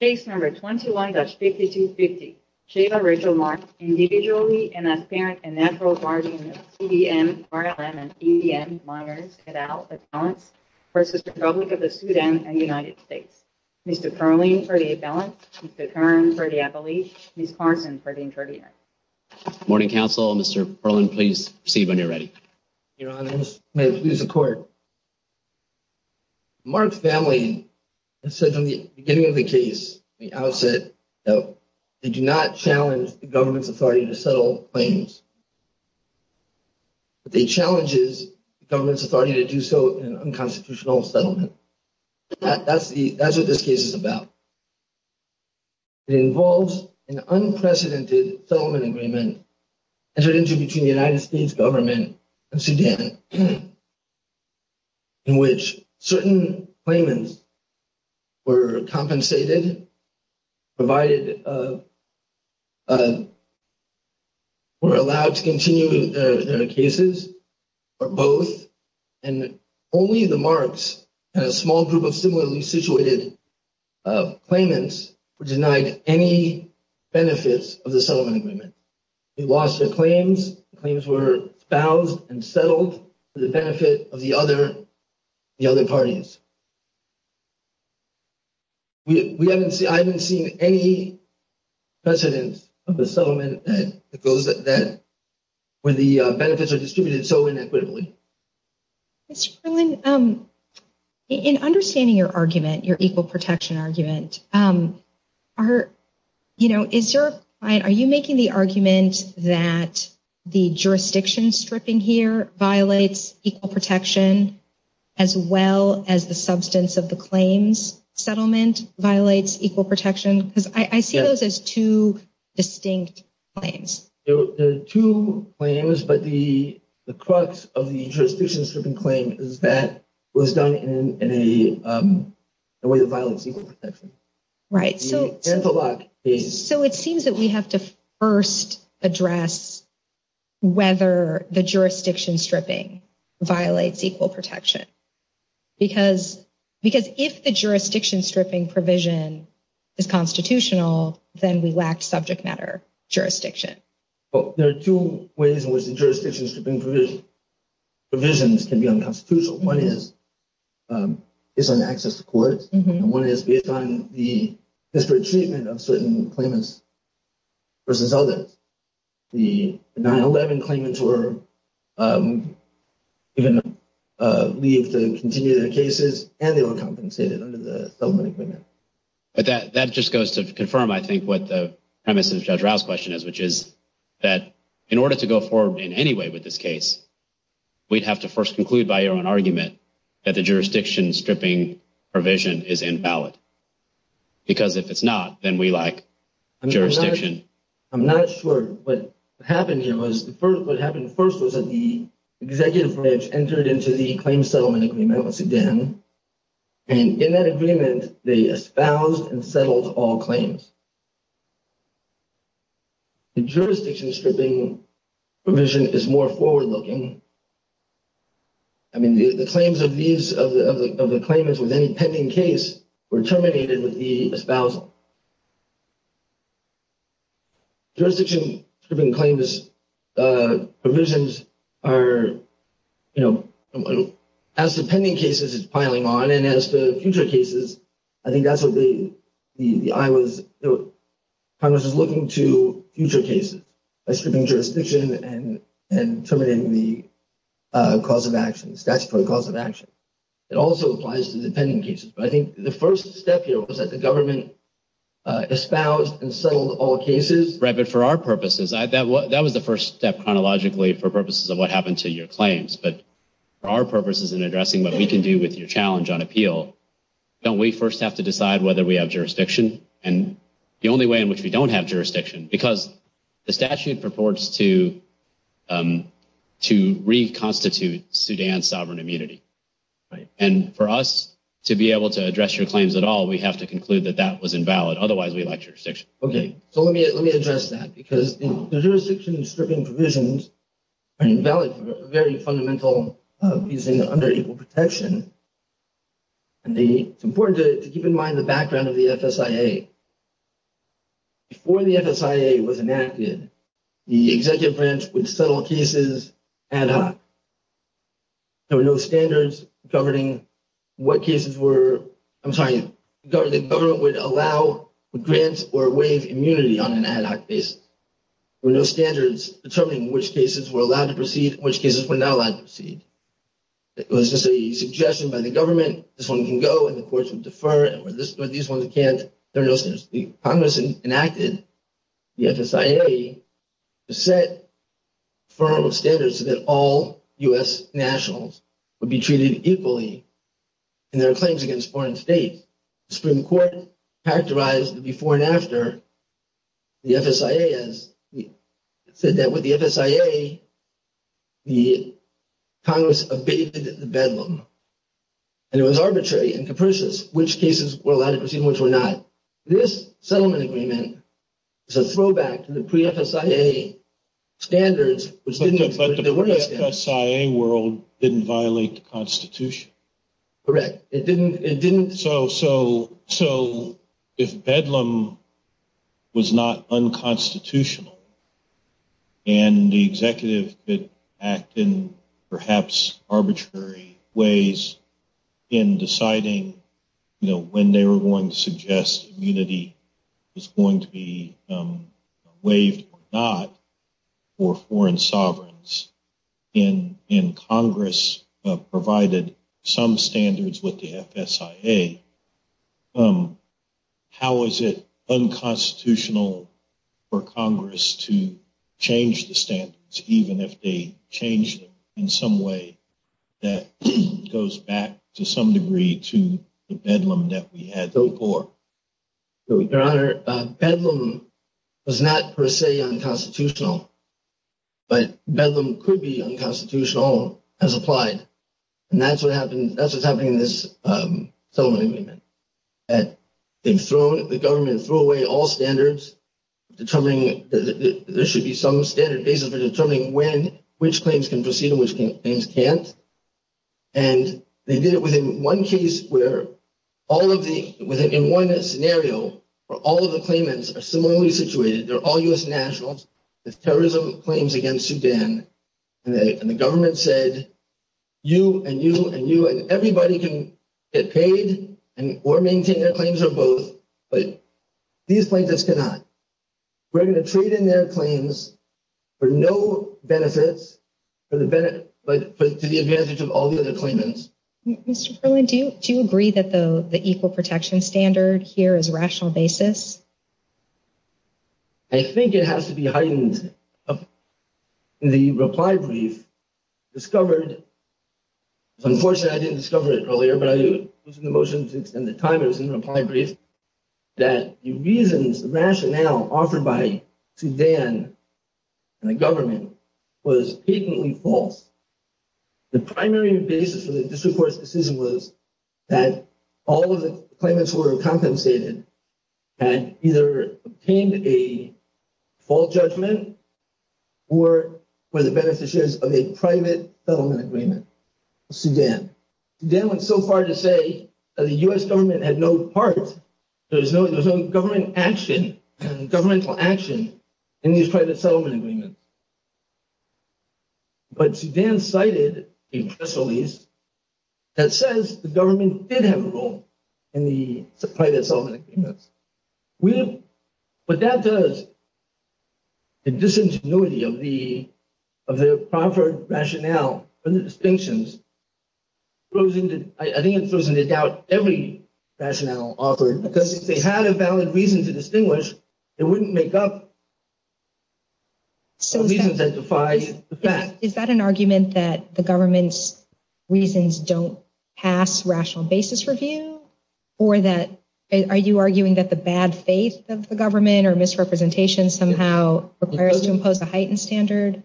Case No. 21-5250, Chava Rachel Mark, Individually, in a transparent and natural bargain of CDM, RLM, and EDM minors, et al., of balance, v. Republic of the Sudan and United States. Mr. Perlin, 38 balance. Mr. Kern, 38 balance. Ms. Carson, 38 balance. Morning, counsel. Mr. Perlin, please proceed when you're ready. Your Honor, may it please the Court. Mark's family has said from the beginning of the case, the outset, that they do not challenge the government's authority to settle claims, but they challenge the government's authority to do so in an unconstitutional settlement. That's what this case is about. It involves an unprecedented settlement agreement entered into between the United States government and Sudan, in which certain claimants were compensated, provided—were allowed to continue their cases, or both, and only the Marks and a small group of similarly situated claimants were denied any benefits of the settlement agreement. They lost their claims. The claims were espoused and settled for the benefit of the other parties. We haven't seen—I haven't seen any precedence of the settlement that goes—where the benefits are distributed so inequitably. Mr. Perlin, in understanding your argument, your equal protection argument, are—you know, is your—are you making the argument that the jurisdiction stripping here violates equal protection as well as the substance of the claims settlement violates equal protection? Because I see those as two distinct claims. They're two claims, but the crux of the jurisdiction stripping claim is that it was done in a way that violates equal protection. Right, so— The Antelope case— Well, there are two ways in which the jurisdiction stripping provisions can be unconstitutional. One is based on access to court, and one is based on the disparate treatment of certain claimants versus others. The 9-11 claimants were given leave to continue their cases, and they were compensated under the settlement agreement. But that—that just goes to confirm, I think, what the premise of Judge Rouse's question is, which is that in order to go forward in any way with this case, we'd have to first conclude by our own argument that the jurisdiction stripping provision is invalid, because if it's not, then we lack jurisdiction. I'm not sure what happened here was—what happened first was that the executive branch entered into the claim settlement agreement with Sedan, and in that agreement, they espoused and settled all claims. The jurisdiction stripping provision is more forward-looking. I mean, the claims of these—of the claimants with any pending case were terminated with the espousing. Jurisdiction stripping claims provisions are, you know, as the pending cases is piling on and as the future cases, I think that's what the—I was—Congress is looking to future cases by stripping jurisdiction and terminating the cause of action, the statute for the cause of action. It also applies to the pending cases. But I think the first step here was that the government espoused and settled all cases. Right, but for our purposes, that was the first step chronologically for purposes of what happened to your claims. But for our purposes in addressing what we can do with your challenge on appeal, don't we first have to decide whether we have jurisdiction? And the only way in which we don't have jurisdiction, because the statute purports to reconstitute Sudan's sovereign immunity. Right, and for us to be able to address your claims at all, we have to conclude that that was invalid. Otherwise, we lack jurisdiction. Okay, so let me address that, because the jurisdiction stripping provisions are invalid for a very fundamental reason, under equal protection. And the—it's important to keep in mind the background of the FSIA. Before the FSIA was enacted, the executive branch would settle cases ad hoc. There were no standards governing what cases were—I'm sorry, the government would allow, would grant, or waive immunity on an ad hoc basis. There were no standards determining which cases were allowed to proceed and which cases were not allowed to proceed. It was just a suggestion by the government, this one can go, and the courts would defer, and these ones can't. There were no standards. Congress enacted the FSIA to set firm standards so that all U.S. nationals would be treated equally in their claims against foreign states. The Supreme Court characterized the before and after, the FSIA has said that with the FSIA, the Congress abated the bedlam. And it was arbitrary and capricious which cases were allowed to proceed and which were not. This settlement agreement is a throwback to the pre-FSIA standards, which didn't— But the pre-FSIA world didn't violate the Constitution. Correct. It didn't— So, if bedlam was not unconstitutional, and the executive could act in perhaps arbitrary ways in deciding when they were going to suggest immunity was going to be waived or not for foreign sovereigns, and Congress provided some standards with the FSIA, how is it unconstitutional for Congress to change the standards, even if they change them in some way that goes back to some degree to the bedlam that we had before? Your Honor, bedlam was not per se unconstitutional, but bedlam could be unconstitutional as applied. And that's what happened—that's what's happening in this settlement agreement. They've thrown—the government threw away all standards determining that there should be some standard basis for determining when—which claims can proceed and which claims can't. And they did it within one case where all of the—within one scenario where all of the claimants are similarly situated, they're all U.S. nationals, there's terrorism claims against Sudan, and the government said, you and you and you and everybody can get paid or maintain their claims or both, but these plaintiffs cannot. We're going to trade in their claims for no benefits, but to the advantage of all the other claimants. Mr. Perlin, do you agree that the equal protection standard here is a rational basis? I think it has to be heightened. The reply brief discovered—unfortunately, I didn't discover it earlier, but I was in the motion to extend the time, it was in the reply brief—that the reasons, the rationale offered by Sudan and the government was patently false. The primary basis for the district court's decision was that all of the claimants who were compensated had either obtained a default judgment or were the beneficiaries of a private settlement agreement with Sudan. Sudan went so far to say that the U.S. government had no part, there was no government action, governmental action in these private settlement agreements. But Sudan cited a press release that says the government did have a role in the private settlement agreements. What that does, the disingenuity of the proper rationale for the distinctions, I think it throws into doubt every rationale offered, because if they had a valid reason to distinguish, it wouldn't make up the reasons that defy the fact. Is that an argument that the government's reasons don't pass rational basis review, or are you arguing that the bad faith of the government or misrepresentation somehow requires to impose a heightened standard?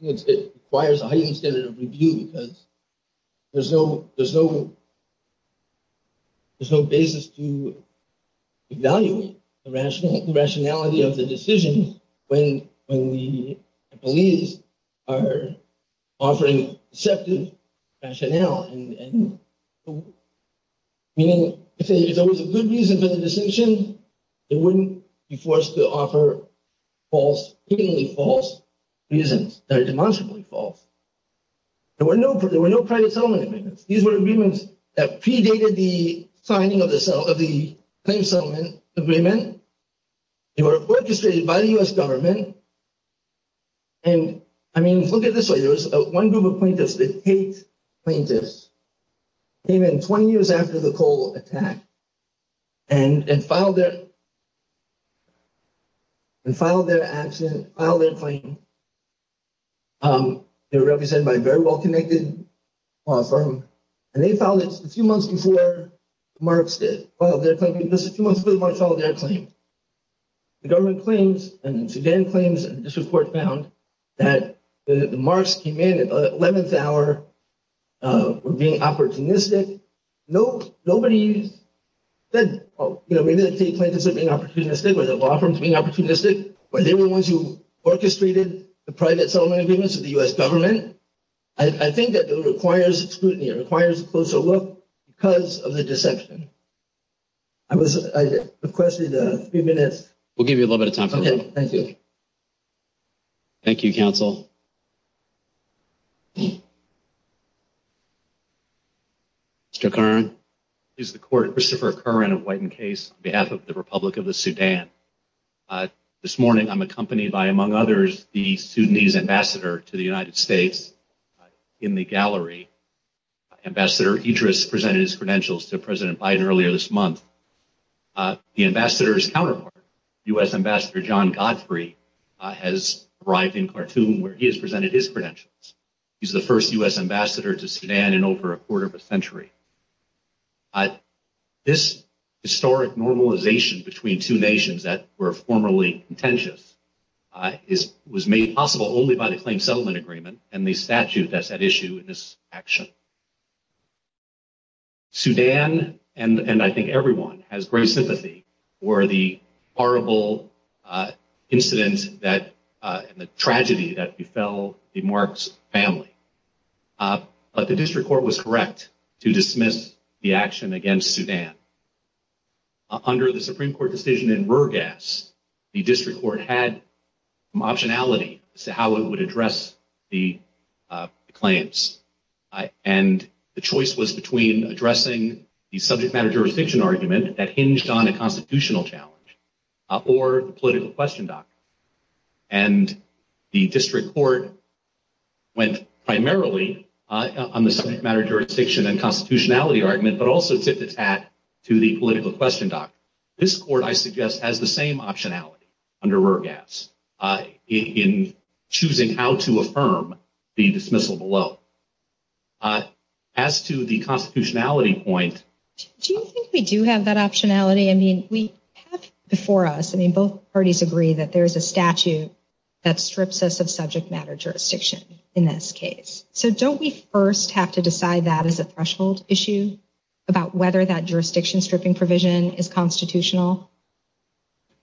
It requires a heightened standard of review because there's no basis to evaluate the rationality of the decision when the police are offering deceptive rationale. Meaning, if there was a good reason for the distinction, it wouldn't be forced to offer false, blatantly false reasons that are demonstrably false. There were no private settlement agreements. These were agreements that predated the signing of the claim settlement agreement. They were orchestrated by the U.S. government. And, I mean, look at it this way. There was one group of plaintiffs, the Tate plaintiffs, came in 20 years after the coal attack and filed their action, filed their claim. They were represented by a very well-connected law firm, and they filed it a few months before the Marks did, filed their claim just a few months before the Marks filed their claim. The government claims and the Sudan claims and this report found that the Marks came in at the 11th hour, were being opportunistic. Nobody said, you know, maybe the Tate plaintiffs are being opportunistic or the law firms are being opportunistic, but they were the ones who orchestrated the private settlement agreements of the U.S. government. I think that it requires scrutiny. It requires a closer look because of the deception. I was, I requested a few minutes. We'll give you a little bit of time. Okay, thank you. Thank you, counsel. Mr. Curran. This is the court, Christopher Curran of White and Case, on behalf of the Republic of the Sudan. This morning, I'm accompanied by, among others, the Sudanese ambassador to the United States. In the gallery, Ambassador Idris presented his credentials to President Biden earlier this month. The ambassador's counterpart, U.S. Ambassador John Godfrey, has arrived in Khartoum, where he has presented his credentials. He's the first U.S. ambassador to Sudan in over a quarter of a century. This historic normalization between two nations that were formerly contentious was made possible only by the claimed settlement agreement and the statute that's at issue in this action. Sudan, and I think everyone, has great sympathy for the horrible incident that, the tragedy that befell the Marks family. But the district court was correct to dismiss the action against Sudan. Under the Supreme Court decision in Rurgas, the district court had some optionality as to how it would address the claims. And the choice was between addressing the subject matter jurisdiction argument that hinged on a constitutional challenge or the political question document. And the district court went primarily on the subject matter jurisdiction and constitutionality argument, but also tipped its hat to the political question document. This court, I suggest, has the same optionality under Rurgas in choosing how to affirm the dismissal below. As to the constitutionality point... Do you think we do have that optionality? I mean, we have before us, I mean, both parties agree that there is a statute that strips us of subject matter jurisdiction in this case. So don't we first have to decide that as a threshold issue about whether that jurisdiction stripping provision is constitutional?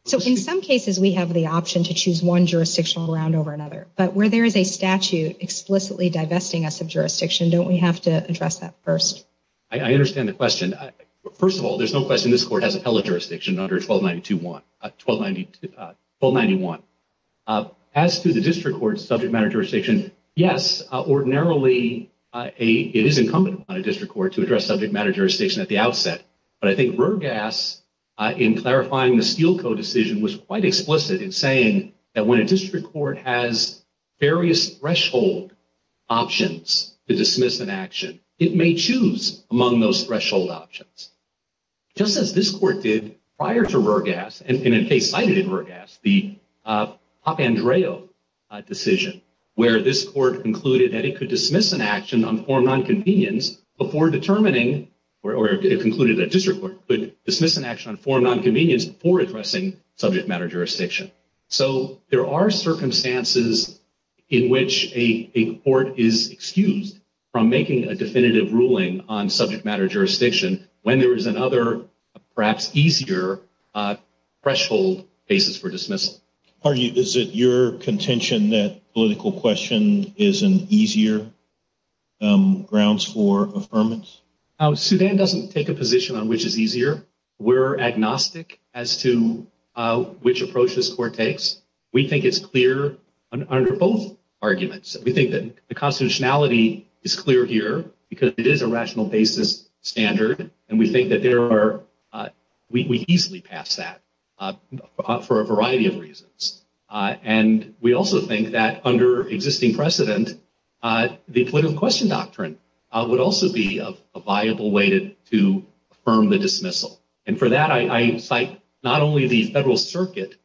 So in some cases, we have the option to choose one jurisdictional round over another. But where there is a statute explicitly divesting us of jurisdiction, don't we have to address that first? I understand the question. First of all, there's no question this court has appellate jurisdiction under 1292-1, 1292, 1291. As to the district court's subject matter jurisdiction, yes, ordinarily, it is incumbent upon a district court to address subject matter jurisdiction at the outset. But I think Rurgas, in clarifying the Steele Co. decision, was quite explicit in saying that when a district court has various threshold options to dismiss an action, it may choose among those threshold options. Just as this court did prior to Rurgas, and in a case cited in Rurgas, the Papandreou decision, where this court concluded that it could dismiss an action on form non-convenience before determining, or it concluded that a district court could dismiss an action on form non-convenience before addressing subject matter jurisdiction. So there are circumstances in which a court is excused from making a definitive ruling on subject matter jurisdiction when there is another, perhaps easier, threshold basis for dismissal. Is it your contention that political question is an easier grounds for affirmance? Sudan doesn't take a position on which is easier. We're agnostic as to which approach this court takes. We think it's clear under both arguments. We think that the constitutionality is clear here because it is a rational basis standard. And we think that there are, we easily pass that for a variety of reasons. And we also think that under existing precedent, the political question doctrine would also be a viable way to affirm the dismissal. And for that, I cite not only the federal circuit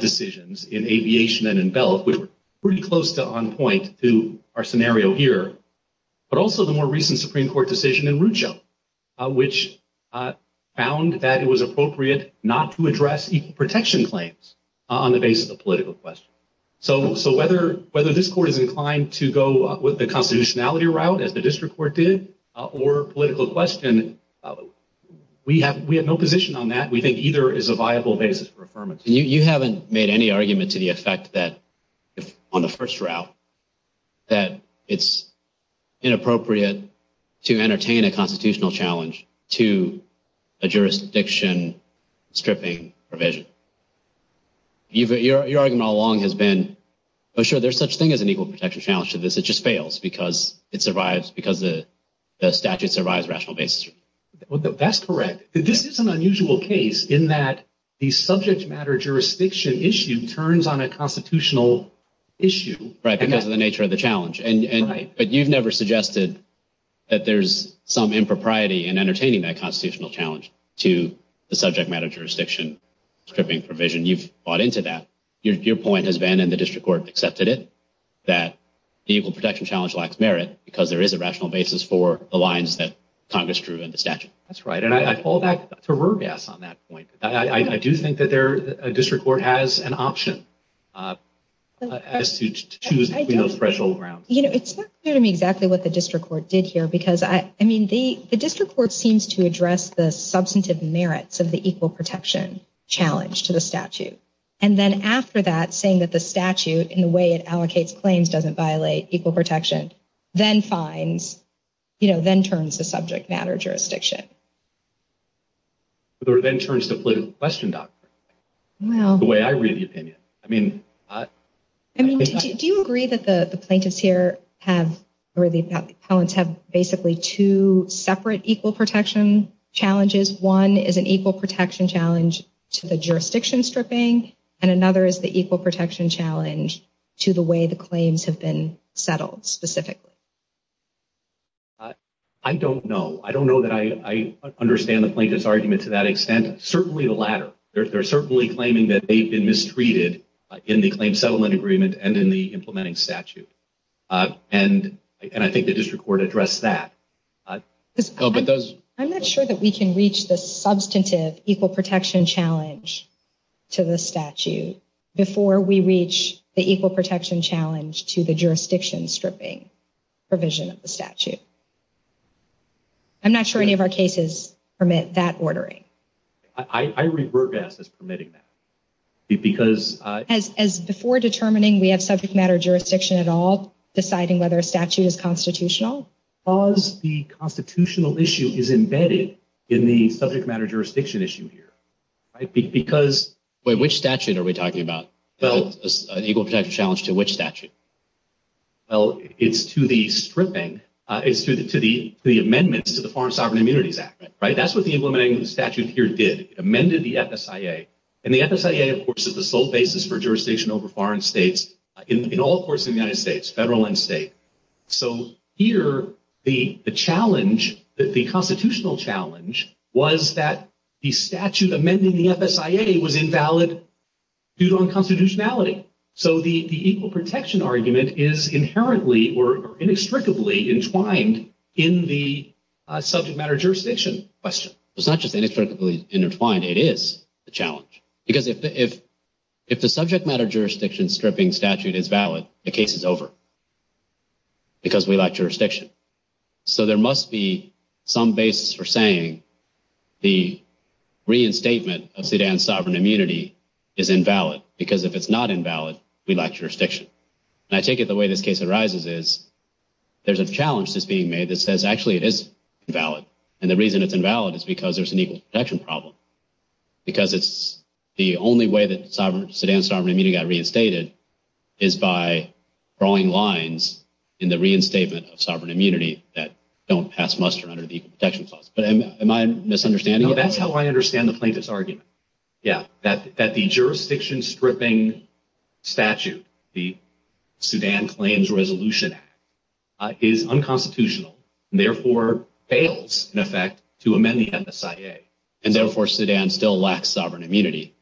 decisions in Aviation and in Belt, which were pretty close to on point to our scenario here, but also the more recent Supreme Court decision in Rucho, which found that it was appropriate not to address equal protection claims on the basis of political question. So whether this court is inclined to go with the constitutionality route, as the district court did, or political question, we have no position on that. We think either is a viable basis for affirmance. You haven't made any argument to the effect that if on the first route, that it's inappropriate to entertain a constitutional challenge to a jurisdiction stripping provision. Your argument all along has been, oh sure, there's such thing as an equal protection challenge to this, it just fails because it survives, because the statute survives rational basis. That's correct. This is an unusual case in that the subject matter jurisdiction issue turns on a constitutional issue. Right, because of the nature of the challenge. But you've never suggested that there's some impropriety in entertaining that constitutional challenge to the subject matter jurisdiction stripping provision. You've bought into that. Your point has been, and the district court accepted it, that the equal protection challenge lacks merit because there is a rational basis for the lines that Congress drew in the statute. That's right, and I fall back to Rourke's on that point. I do think that a district court has an option as to choose between those fragile grounds. You know, it's not clear to me exactly what the district court did here, because I mean, the district court seems to address the substantive merits of the equal protection challenge to the statute. And then after that, saying that the statute, in the way it allocates claims, doesn't violate equal protection, then finds, you know, then turns to subject matter jurisdiction. Or then turns to political question doctrine, the way I read the opinion. I mean, do you agree that the plaintiffs here have, or the appellants, have basically two separate equal protection challenges? One is an equal protection challenge to the jurisdiction stripping, and another is the equal protection challenge to the way the claims have been settled specifically? I don't know. I don't know that I understand the plaintiff's argument to that extent. Certainly the latter. They're certainly claiming that they've been mistreated in the claim settlement agreement and in the implementing statute. And I think the district court addressed that. I'm not sure that we can reach the substantive equal protection challenge to the statute before we reach the equal protection challenge to the jurisdiction stripping provision of the statute. I'm not sure any of our cases permit that ordering. I reburg us as permitting that. Because as before determining we have subject matter jurisdiction at all, deciding whether a statute is constitutional. How does the constitutional issue is embedded in the subject matter jurisdiction issue here? Because... Wait, which statute are we talking about? The equal protection challenge to which statute? Well, it's to the stripping, it's to the amendments to the Foreign Sovereign Immunities Act, right? That's what the implementing statute here did. It amended the FSIA. And the FSIA, of course, is the sole basis for jurisdiction over foreign states in all courts in the United States, federal and state. So here, the challenge, the constitutional challenge was that the statute amending the FSIA was invalid due to unconstitutionality. So the equal protection argument is inherently or inextricably entwined in the subject matter jurisdiction question. It's not just inextricably intertwined, it is a challenge. Because if the subject matter jurisdiction stripping statute is valid, the case is over. Because we lack jurisdiction. So there must be some basis for saying the reinstatement of Sudan's sovereign immunity is invalid. Because if it's not invalid, we lack jurisdiction. And I take it the way this case arises is there's a challenge that's being made that says actually it is valid. And the reason it's invalid is because there's an equal protection problem. Because it's the only way that Sudan's sovereign immunity got reinstated is by drawing lines in the reinstatement of sovereign immunity that don't pass muster under the equal protection clause. But am I misunderstanding? No, that's how I understand the plaintiff's argument. Yeah, that the jurisdiction stripping statute, the Sudan Claims Resolution Act, is unconstitutional and therefore fails, in effect, to amend the FSIA. And therefore, Sudan still lacks sovereign immunity.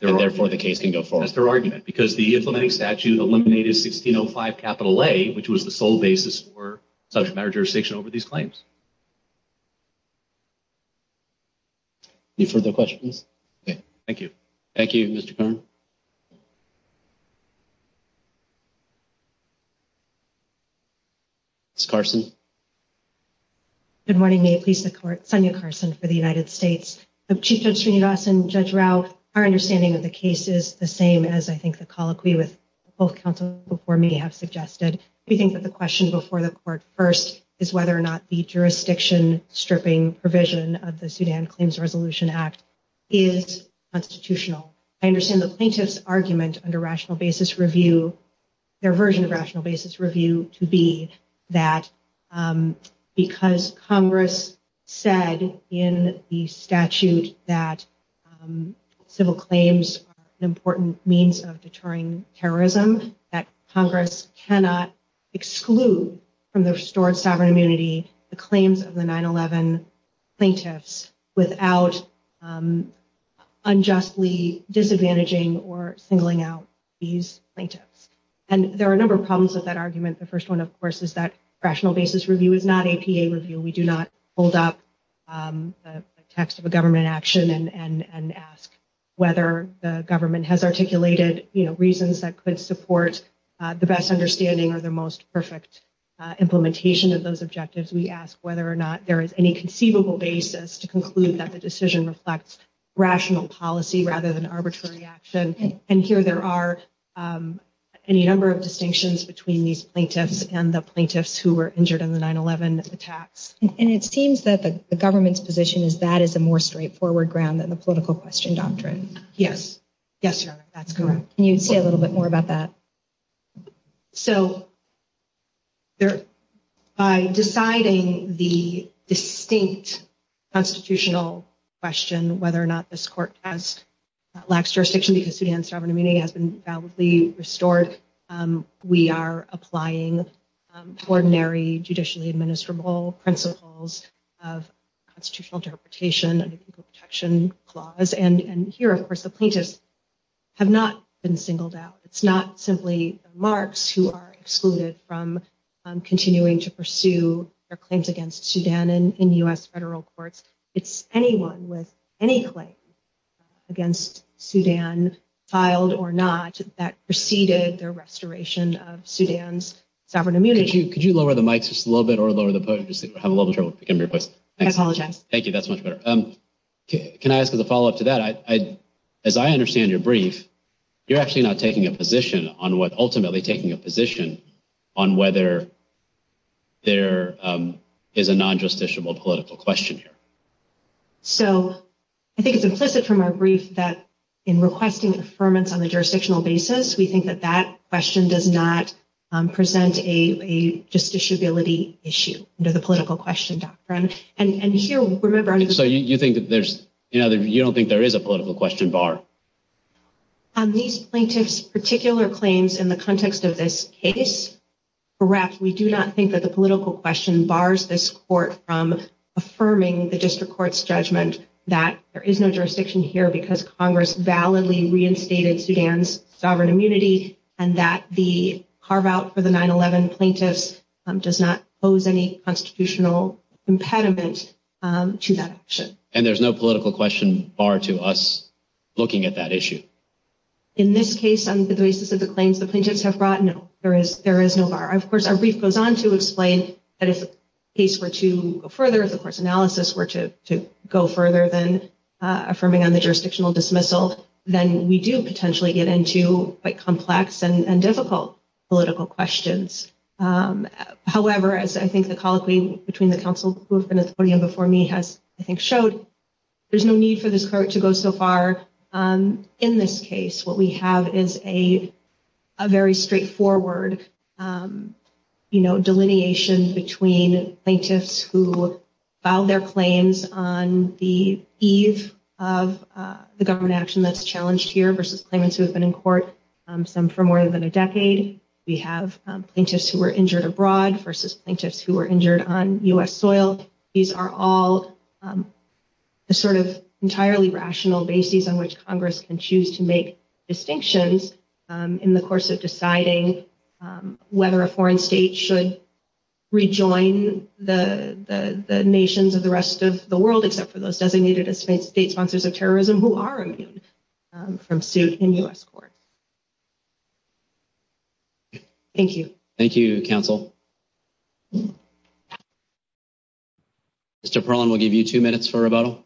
Therefore, the case can go forward. That's their argument. Because the implementing statute eliminated 1605 capital A, which was the sole basis for subject matter jurisdiction over these claims. Any further questions? Okay, thank you. Thank you, Mr. Kern. Ms. Carson. Good morning. May it please the court. Sonia Carson for the United States. Chief Judge Srinivasan, Judge Rao, our understanding of the case is the same as I think the colloquy with both counsel before me have suggested. We think that the question before the court first is whether or not the jurisdiction stripping provision of the Sudan Claims Resolution Act is constitutional. I understand the plaintiff's argument under rational basis review, their version of rational basis review, to be that because Congress said in the statute that civil claims are an important means of deterring terrorism, that Congress cannot exclude from the restored sovereign immunity the claims of the 9-11 plaintiffs without unjustly disadvantaging or singling out these plaintiffs. And there are a number of problems with that argument. The first one, of course, is that rational basis review is not APA review. We do not hold up the text of a government action and ask whether the government has articulated reasons that could support the best understanding or the most perfect implementation of those objectives. We ask whether or not there is any conceivable basis to conclude that the decision reflects rational policy rather than arbitrary action. And here there are any number of distinctions between these plaintiffs and the plaintiffs who were injured in the 9-11 attacks. And it seems that the government's position is that is a more straightforward ground than the political question doctrine. Yes. Yes, Your Honor, that's correct. Can you say a little bit more about that? So by deciding the distinct constitutional question, whether or not this court has lax jurisdiction because Sudan's sovereign immunity has been validly restored, we are applying ordinary judicially administrable principles of constitutional interpretation and protection clause. And here, of course, the plaintiffs have not been singled out. It's not simply Marx who are excluded from continuing to pursue their claims against Sudan in U.S. federal courts. It's anyone with any claim against Sudan, filed or not, that preceded their restoration of Sudan's sovereign immunity. Could you lower the mic just a little bit or lower the podium? I have a little trouble picking up your voice. I apologize. Thank you. That's much better. Can I ask a follow up to that? As I understand your brief, you're actually not taking a position on what ultimately taking a position on whether there is a non-justiciable political question here. So I think it's implicit from our brief that in requesting affirmance on the jurisdictional basis, we think that that question does not present a justiciability issue under the political question doctrine. And so you think that you don't think there is a political question bar? These plaintiffs' particular claims in the context of this case are correct. We do not think that the political question bars this court from affirming the district court's judgment that there is no jurisdiction here because Congress validly reinstated Sudan's sovereign immunity and that the carve out for the 9-11 plaintiffs does not pose any constitutional impediment to that action. And there's no political question bar to us looking at that issue? In this case, on the basis of the claims the plaintiffs have brought, no, there is no bar. Of course, our brief goes on to explain that if the case were to go further, if the court's analysis were to go further than affirming on the jurisdictional dismissal, then we do potentially get into quite complex and difficult political questions. However, as I think the colloquy between the counsel before me has I think showed, there's no need for this court to go so far in this case. What we have is a very straightforward delineation between plaintiffs who filed their claims on the eve of the government action that's challenged here versus claimants who have been in court, some for more than a decade. We have plaintiffs who were injured abroad versus plaintiffs who were injured on U.S. soil. These are all the sort of entirely rational bases on which Congress can choose to make claims. They don't have to go beyond those designated as state sponsors of terrorism who are immune from suit in U.S. court. Thank you. Thank you, counsel. Mr. Perlman, we'll give you two minutes for rebuttal.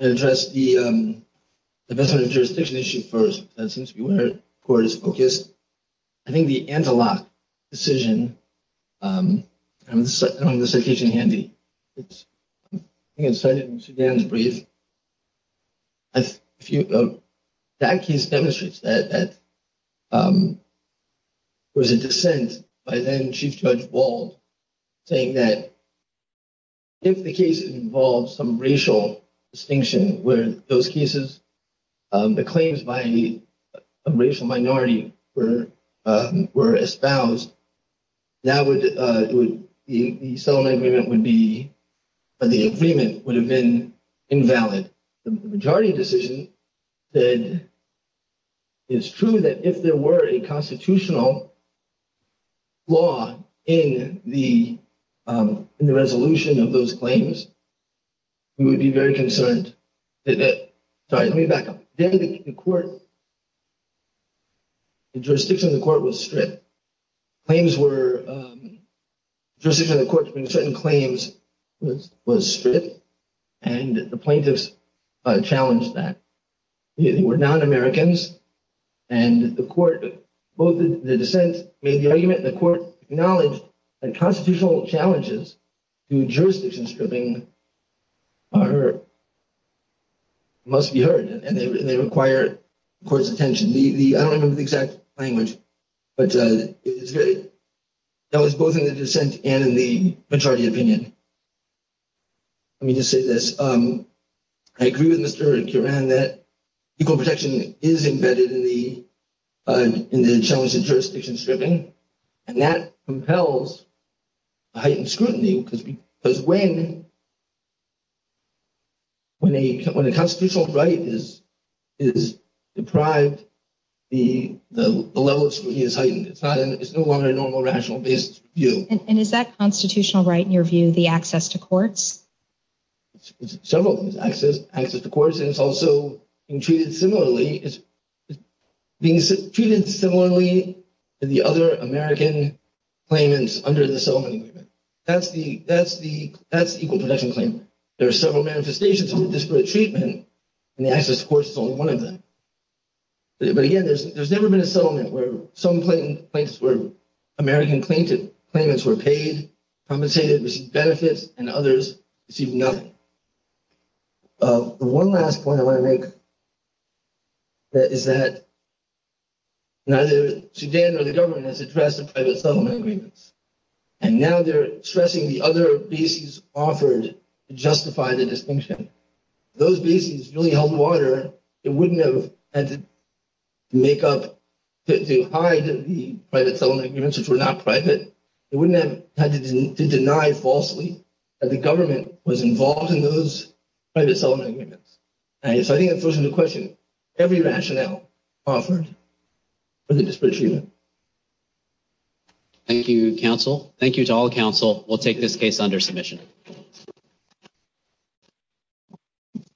I'll address the vesting jurisdiction issue first. That seems to be where the court is focused. I think the antilock decision, I don't have the citation handy. That case demonstrates that there was a dissent by then Chief Judge Wald saying that if the case involves some racial distinction where those cases, the claims by a racial minority were espoused, the settlement agreement would be, the agreement would have been invalid. The majority decision said it's true that if there were a constitutional law in the resolution of those claims, we would be very concerned. Sorry, let me back up. Then the court, the jurisdiction of the court was stripped. Claims were, the jurisdiction of the court to bring certain claims was stripped and the plaintiffs challenged that. They were non-Americans and the court, both the dissent made the argument and the court acknowledged that constitutional challenges to jurisdiction stripping are hurt, must be required of the court's attention. The, I don't remember the exact language, but that was both in the dissent and in the majority opinion. Let me just say this. I agree with Mr. Kieran that equal protection is embedded in the challenge of jurisdiction stripping and that compels a heightened scrutiny because when a constitutional right is deprived, the level of scrutiny is heightened. It's no longer a normal, rational-based view. And is that constitutional right, in your view, the access to courts? Several things, access to courts, and it's also being treated similarly to the other American claimants under the settlement agreement. That's the equal protection claim. There are several manifestations of disparate treatment and the access to courts is only one of them. But again, there's never been a settlement where some plaintiffs were, American claimants were paid, compensated, received benefits, and others received nothing. The one last point I want to make is that neither Sudan or the government has addressed the private settlement agreements. And now they're stressing the other bases offered to justify the distinction. Those bases really held water. It wouldn't have had to make up to hide the private settlement agreements, which were not private. It wouldn't have had to deny falsely that the government was involved in those private settlement agreements. And so I think that throws into question every rationale offered for the disparate treatment. Thank you, counsel. Thank you to all counsel. We'll take this case under submission. Thank you.